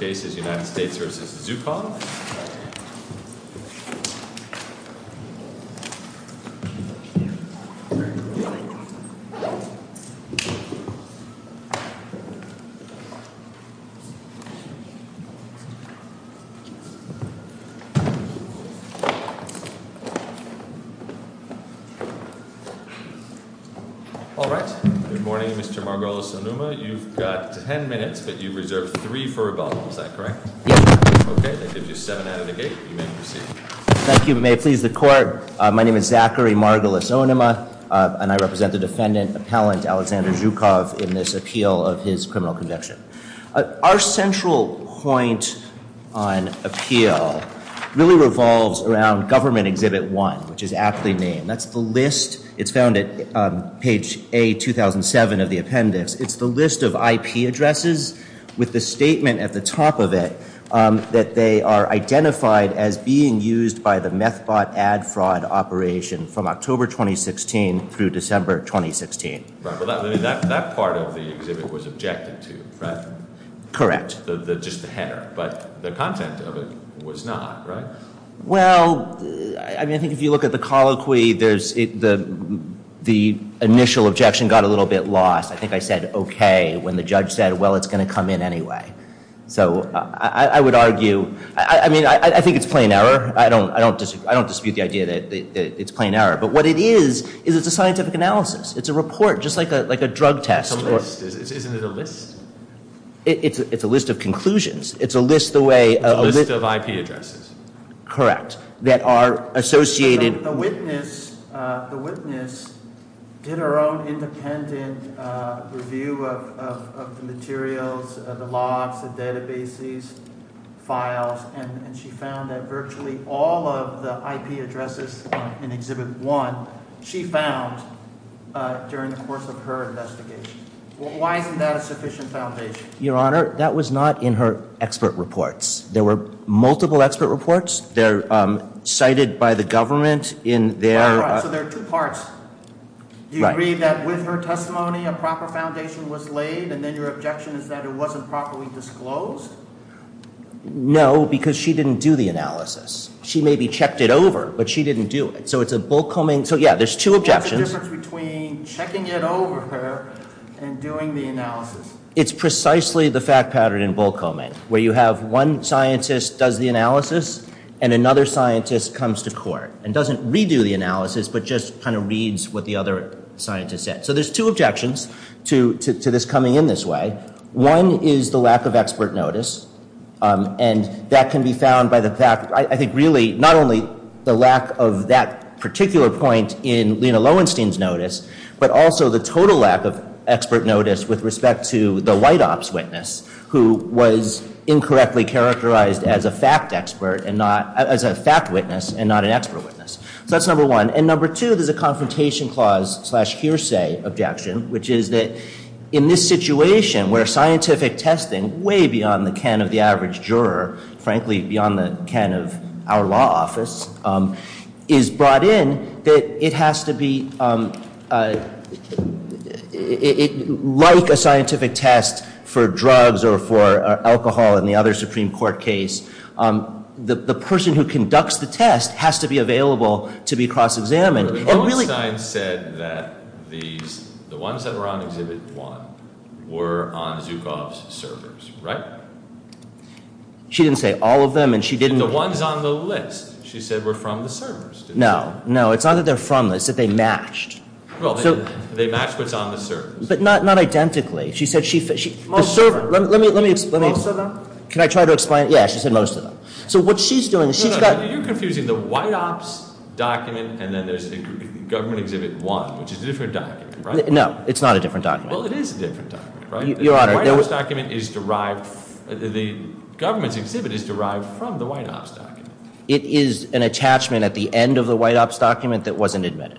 Alright, good morning Mr. Margolis and Numa, you've got ten minutes but you've reserved three for rebuttal, is that correct? Yes. Okay, that gives you seven out of the gate, you may proceed. Thank you, may it please the court, my name is Zachary Margolis-Onuma and I represent the defendant, appellant Alexander Zhukov, in this appeal of his criminal conviction. Our central point on appeal really revolves around government exhibit one, which is aptly named. That's the list, it's found at page A-2007 of the appendix, it's the list of IP addresses with the statement at the top of it that they are identified as being used by the meth bot ad fraud operation from October 2016 through December 2016. Right, but that part of the exhibit was objected to, right? Correct. Just the header, but the content of it was not, right? Well, I think if you look at the colloquy, the initial objection got a little bit lost. I think I said, okay, when the judge said, well, it's going to come in anyway. So, I would argue, I mean, I think it's plain error. I don't dispute the idea that it's plain error, but what it is, is it's a scientific analysis. It's a report, just like a drug test. It's a list, isn't it a list? It's a list of conclusions. It's a list of IP addresses. Correct. The witness did her own independent review of the materials, the logs, the databases, files, and she found that virtually all of the IP addresses in exhibit one, she found during the course of her investigation. Why isn't that a sufficient foundation? Your Honor, that was not in her expert reports. There were multiple expert reports. They're cited by the government in their- All right, so there are two parts. Do you agree that with her testimony, a proper foundation was laid, and then your objection is that it wasn't properly disclosed? No, because she didn't do the analysis. She maybe checked it over, but she didn't do it. So, it's a bulk homing. So, yeah, there's two objections. What's the difference between checking it over her and doing the analysis? It's precisely the fact pattern in bulk homing, where you have one scientist does the analysis, and another scientist comes to court and doesn't redo the analysis, but just kind of reads what the other scientist said. So, there's two objections to this coming in this way. One is the lack of expert notice, and that can be found by the fact- I think really not only the lack of that particular point in Lena Lowenstein's notice, but also the total lack of expert notice with respect to the white ops witness, who was incorrectly characterized as a fact witness and not an expert witness. So, that's number one. And number two, there's a confrontation clause slash hearsay objection, which is that in this situation where scientific testing, way beyond the can of the average juror, frankly, beyond the can of our law office, is brought in, that it has to be, like a scientific test for drugs or for alcohol in the other Supreme Court case, the person who conducts the test has to be available to be cross-examined. And really- But Lowenstein said that the ones that were on Exhibit 1 were on Zhukov's servers, right? She didn't say all of them, and she didn't- The ones on the list, she said, were from the servers. No, no, it's not that they're from the list. It's that they matched. Well, they matched what's on the servers. But not identically. She said she- Most of them. Let me explain. Most of them? Can I try to explain? Yeah, she said most of them. So, what she's doing is she's got- No, no, you're confusing the white ops document, and then there's Government Exhibit 1, which is a different document, right? No, it's not a different document. Well, it is a different document, right? Your Honor- The government's exhibit is derived from the white ops document. It is an attachment at the end of the white ops document that wasn't admitted.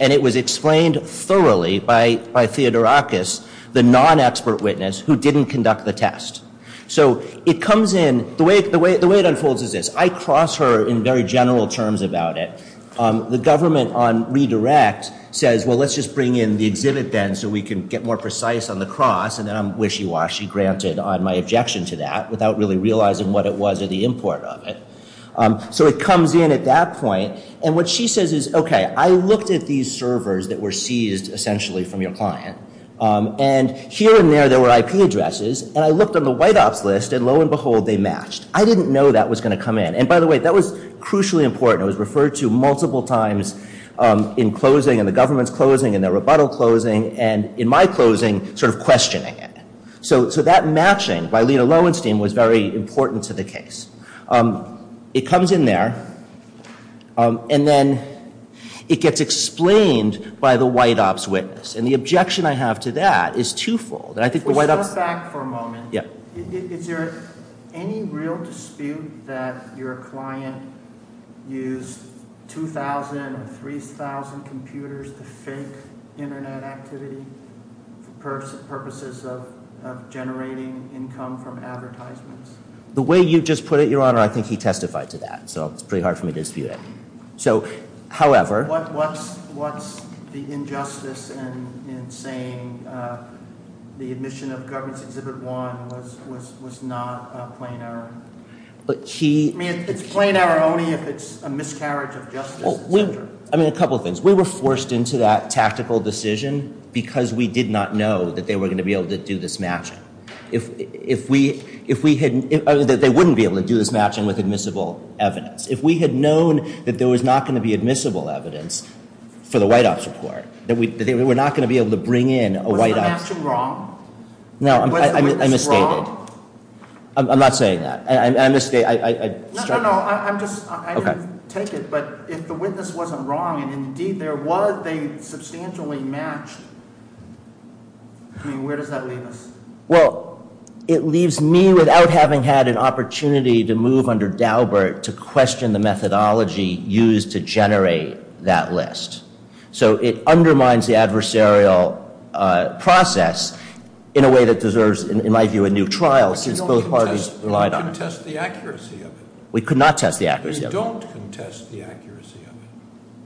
And it was explained thoroughly by Theodorakis, the non-expert witness, who didn't conduct the test. So, it comes in- The way it unfolds is this. I cross her in very general terms about it. The government on redirect says, well, let's just bring in the exhibit then so we can get more precise on the cross. And then I'm wishy-washy, granted, on my objection to that without really realizing what it was or the import of it. So, it comes in at that point. And what she says is, okay, I looked at these servers that were seized, essentially, from your client. And here and there, there were IP addresses. And I looked on the white ops list, and lo and behold, they matched. I didn't know that was going to come in. And, by the way, that was crucially important. It was referred to multiple times in closing and the government's closing and the rebuttal closing. And in my closing, sort of questioning it. So, that matching by Lena Lowenstein was very important to the case. It comes in there. And then it gets explained by the white ops witness. And the objection I have to that is twofold. And I think the white ops- We'll step back for a moment. Yeah. Is there any real dispute that your client used 2,000 or 3,000 computers to fake Internet activity for purposes of generating income from advertisements? The way you just put it, Your Honor, I think he testified to that. So, it's pretty hard for me to dispute it. So, however- What's the injustice in saying the admission of government's Exhibit 1 was not a plain error? But he- I mean, it's a plain error only if it's a miscarriage of justice, et cetera. I mean, a couple of things. We were forced into that tactical decision because we did not know that they were going to be able to do this matching. If we had- They wouldn't be able to do this matching with admissible evidence. If we had known that there was not going to be admissible evidence for the white ops report, that they were not going to be able to bring in a white ops- Was the matching wrong? No, I misstated. Was the witness wrong? I'm not saying that. I misstated. No, no, no. I'm just- Okay. I didn't take it. But if the witness wasn't wrong, and indeed there was, they substantially matched. I mean, where does that leave us? Well, it leaves me without having had an opportunity to move under Daubert to question the methodology used to generate that list. So it undermines the adversarial process in a way that deserves, in my view, a new trial since both parties relied on it. You don't contest the accuracy of it. We could not test the accuracy of it. You don't contest the accuracy of it.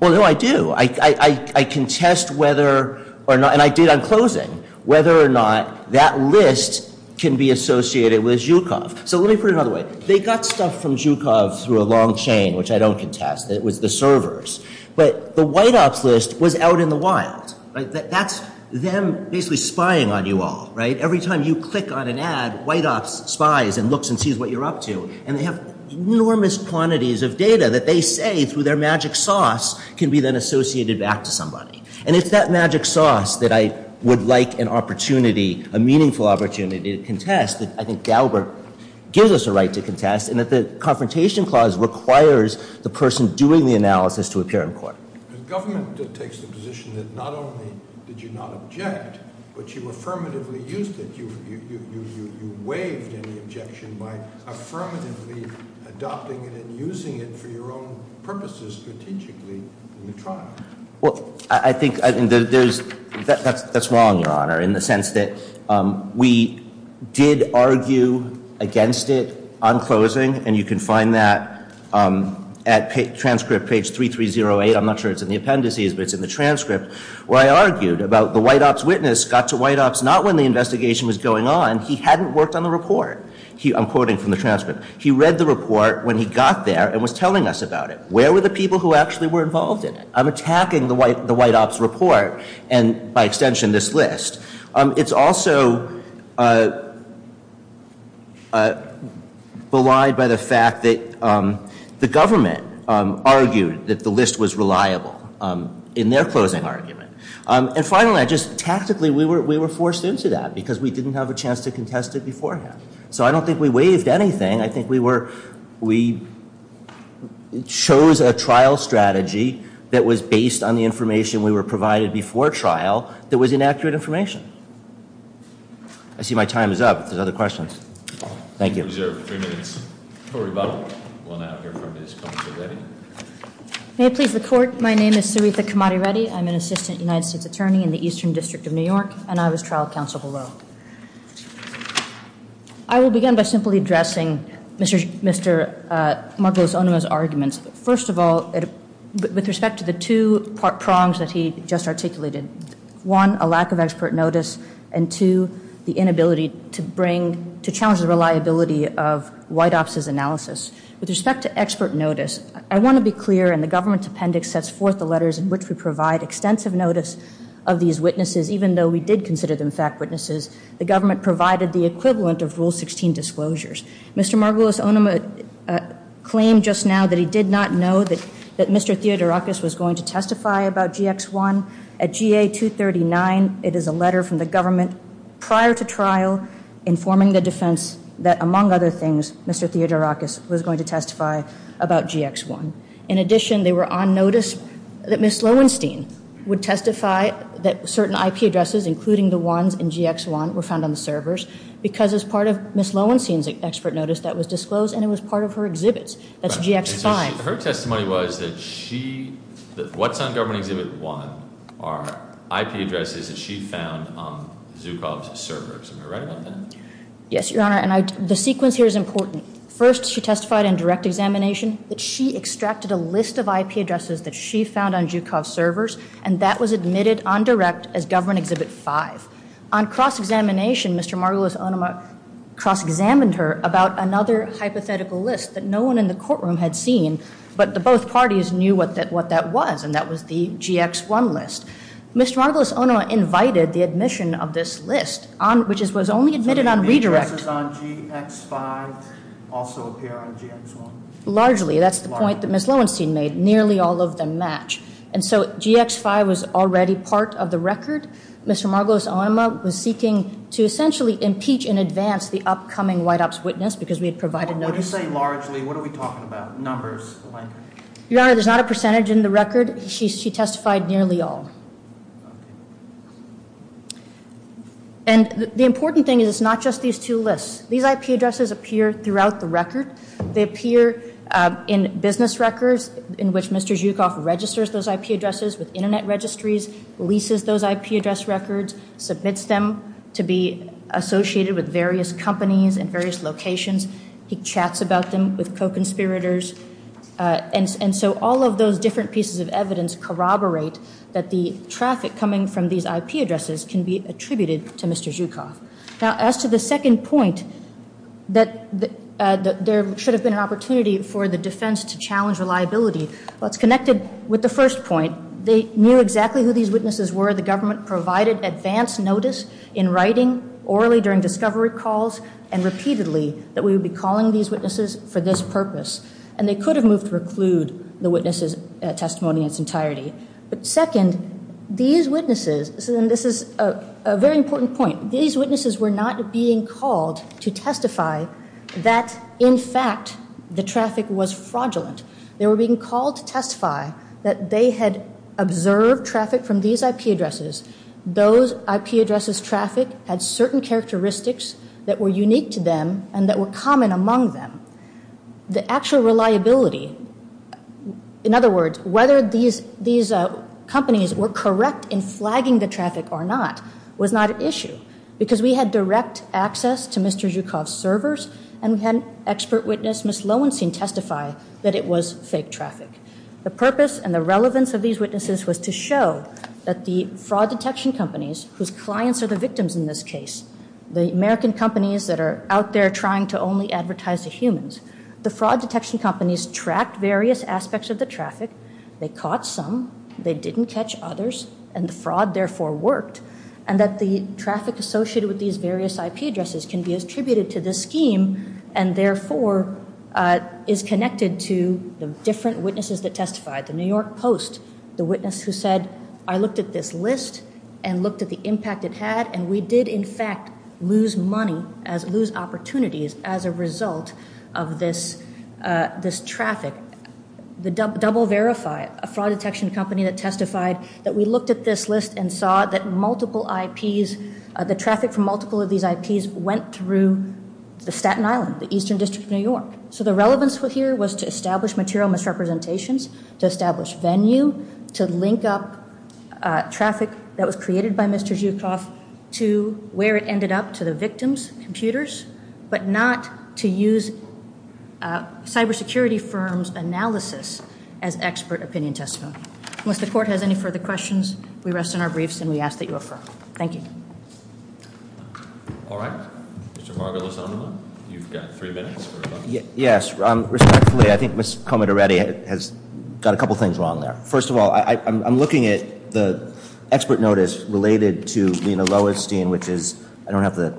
Well, no, I do. I contest whether or not, and I did on closing, whether or not that list can be associated with Zhukov. So let me put it another way. They got stuff from Zhukov through a long chain, which I don't contest. It was the servers. But the white ops list was out in the wild. That's them basically spying on you all, right? Every time you click on an ad, white ops spies and looks and sees what you're up to. And they have enormous quantities of data that they say, through their magic sauce, can be then associated back to somebody. And it's that magic sauce that I would like an opportunity, a meaningful opportunity to contest that I think Daubert gives us a right to contest, and that the confrontation clause requires the person doing the analysis to appear in court. The government takes the position that not only did you not object, but you affirmatively used it. You waived any objection by affirmatively adopting it and using it for your own purposes strategically in the trial. Well, I think that's wrong, Your Honor, in the sense that we did argue against it on closing. And you can find that at transcript page 3308. I'm not sure it's in the appendices, but it's in the transcript, where I argued about the white ops witness got to white ops not when the investigation was going on. He hadn't worked on the report. I'm quoting from the transcript. He read the report when he got there and was telling us about it. Where were the people who actually were involved in it? I'm attacking the white ops report and, by extension, this list. It's also belied by the fact that the government argued that the list was reliable in their closing argument. And finally, tactically, we were forced into that because we didn't have a chance to contest it beforehand. So I don't think we waived anything. I think we chose a trial strategy that was based on the information we were provided before trial that was inaccurate information. I see my time is up. There's other questions. Thank you. We reserve three minutes for rebuttal. We'll now hear from Ms. Kamati-Reddy. May it please the court, my name is Sarita Kamati-Reddy. I'm an assistant United States attorney in the Eastern District of New York, and I was trial counsel below. I will begin by simply addressing Mr. Margolis-Onuma's arguments. First of all, with respect to the two prongs that he just articulated, one, a lack of expert notice, and two, the inability to challenge the reliability of white ops' analysis. With respect to expert notice, I want to be clear, and the government appendix sets forth the letters in which we provide extensive notice of these witnesses, even though we did consider them fact witnesses. The government provided the equivalent of Rule 16 disclosures. Mr. Margolis-Onuma claimed just now that he did not know that Mr. Theodorakis was going to testify about GX1. At GA 239, it is a letter from the government prior to trial informing the defense that, among other things, Mr. Theodorakis was going to testify about GX1. In addition, they were on notice that Ms. Lowenstein would testify that certain IP addresses, including the ones in GX1, were found on the servers because it was part of Ms. Lowenstein's expert notice that was disclosed, and it was part of her exhibits. That's GX5. Her testimony was that what's on Government Exhibit 1 are IP addresses that she found on Zhukov's servers. Am I right about that? Yes, Your Honor, and the sequence here is important. First, she testified in direct examination that she extracted a list of IP addresses that she found on Zhukov's servers, and that was admitted on direct as Government Exhibit 5. On cross-examination, Mr. Margolis-Onuma cross-examined her about another hypothetical list that no one in the courtroom had seen, but both parties knew what that was, and that was the GX1 list. Mr. Margolis-Onuma invited the admission of this list, which was only admitted on redirect. Do the IP addresses on GX5 also appear on GX1? Largely. That's the point that Ms. Lowenstein made. Nearly all of them match. And so GX5 was already part of the record. Mr. Margolis-Onuma was seeking to essentially impeach in advance the upcoming White Ops witness because we had provided notice. When you say largely, what are we talking about, numbers? Your Honor, there's not a percentage in the record. She testified nearly all. And the important thing is it's not just these two lists. These IP addresses appear throughout the record. They appear in business records in which Mr. Zhukov registers those IP addresses with Internet registries, leases those IP address records, submits them to be associated with various companies and various locations. He chats about them with co-conspirators. And so all of those different pieces of evidence corroborate that the traffic coming from these IP addresses can be attributed to Mr. Zhukov. Now, as to the second point, that there should have been an opportunity for the defense to challenge reliability, well, it's connected with the first point. They knew exactly who these witnesses were. The government provided advance notice in writing, orally during discovery calls, and repeatedly that we would be calling these witnesses for this purpose. And they could have moved to reclude the witnesses' testimony in its entirety. But second, these witnesses, and this is a very important point, these witnesses were not being called to testify that, in fact, the traffic was fraudulent. They were being called to testify that they had observed traffic from these IP addresses. Those IP addresses' traffic had certain characteristics that were unique to them and that were common among them. The actual reliability, in other words, whether these companies were correct in flagging the traffic or not, was not an issue. Because we had direct access to Mr. Zhukov's servers, and we had an expert witness, Ms. Lowenstein, testify that it was fake traffic. The purpose and the relevance of these witnesses was to show that the fraud detection companies, whose clients are the victims in this case, the American companies that are out there trying to only advertise to humans, the fraud detection companies tracked various aspects of the traffic, they caught some, they didn't catch others, and the fraud therefore worked, and that the traffic associated with these various IP addresses can be attributed to this scheme and therefore is connected to the different witnesses that testified. The New York Post, the witness who said, I looked at this list and looked at the impact it had, and we did, in fact, lose money, lose opportunities as a result of this traffic. The Double Verify, a fraud detection company that testified that we looked at this list and saw that multiple IPs, the traffic from multiple of these IPs went through the Staten Island, the eastern district of New York. So the relevance here was to establish material misrepresentations, to establish venue, to link up traffic that was created by Mr. Zhukov to where it ended up, to the victims' computers, but not to use cybersecurity firms' analysis as expert opinion testimony. Unless the court has any further questions, we rest on our briefs and we ask that you refer. Thank you. All right. Mr. Margolisano, you've got three minutes. Yes. Respectfully, I think Ms. Komet already has got a couple things wrong there. First of all, I'm looking at the expert notice related to Lena Loewenstein, which is, I don't have the,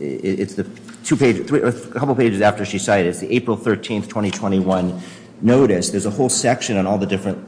it's the two pages, a couple pages after she cited, it's the April 13th, 2021 notice. There's a whole section on all the different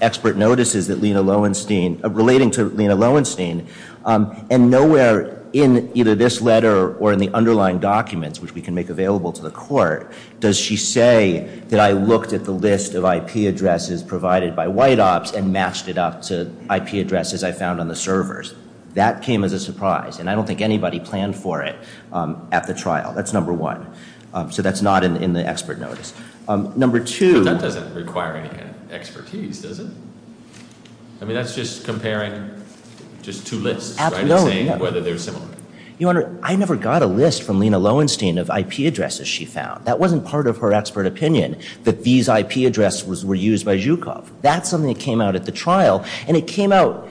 expert notices that Lena Loewenstein, relating to Lena Loewenstein, and nowhere in either this letter or in the underlying documents, which we can make available to the court, does she say that I looked at the list of IP addresses provided by White Ops and matched it up to IP addresses I found on the servers. That came as a surprise, and I don't think anybody planned for it at the trial. That's number one. So that's not in the expert notice. Number two. That doesn't require any kind of expertise, does it? I mean, that's just comparing just two lists, right, and saying whether they're similar. Your Honor, I never got a list from Lena Loewenstein of IP addresses she found. That wasn't part of her expert opinion that these IP addresses were used by Zhukov. That's something that came out at the trial, and it came out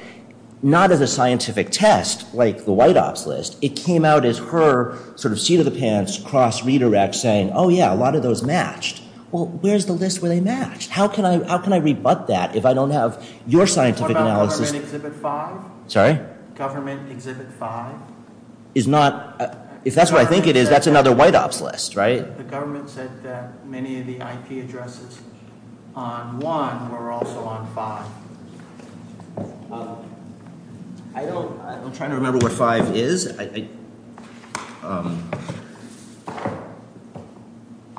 not as a scientific test, like the White Ops list. It came out as her sort of seat of the pants cross redirect saying, oh, yeah, a lot of those matched. Well, where's the list where they matched? How can I rebut that if I don't have your scientific analysis? What about Government Exhibit 5? Sorry? Government Exhibit 5. If that's what I think it is, that's another White Ops list, right? The government said that many of the IP addresses on 1 were also on 5. I don't – I'm trying to remember what 5 is. I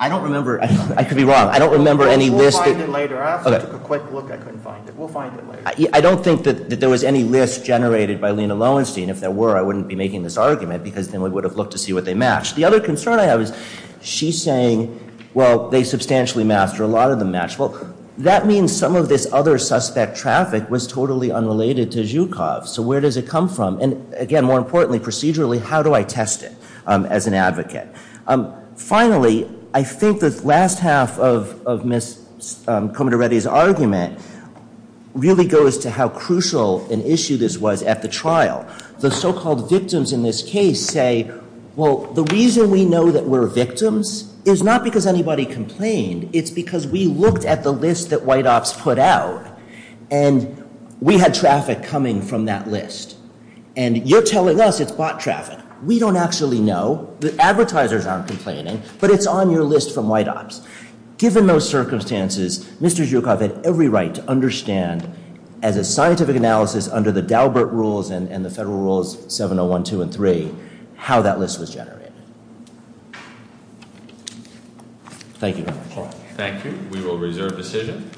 don't remember – I could be wrong. I don't remember any list that – We'll find it later. I also took a quick look. I couldn't find it. We'll find it later. I don't think that there was any list generated by Lena Loewenstein. If there were, I wouldn't be making this argument because then we would have looked to see what they matched. The other concern I have is she's saying, well, they substantially matched or a lot of them matched. Well, that means some of this other suspect traffic was totally unrelated to Zhukov. So where does it come from? And, again, more importantly, procedurally, how do I test it as an advocate? Finally, I think the last half of Ms. Comitoretti's argument really goes to how crucial an issue this was at the trial. The so-called victims in this case say, well, the reason we know that we're victims is not because anybody complained. It's because we looked at the list that White Ops put out, and we had traffic coming from that list. And you're telling us it's bot traffic. We don't actually know. The advertisers aren't complaining, but it's on your list from White Ops. Given those circumstances, Mr. Zhukov had every right to understand, as a scientific analysis under the Daubert rules and the federal rules 701, 2, and 3, how that list was generated. Thank you very much. Thank you. We will reserve decision.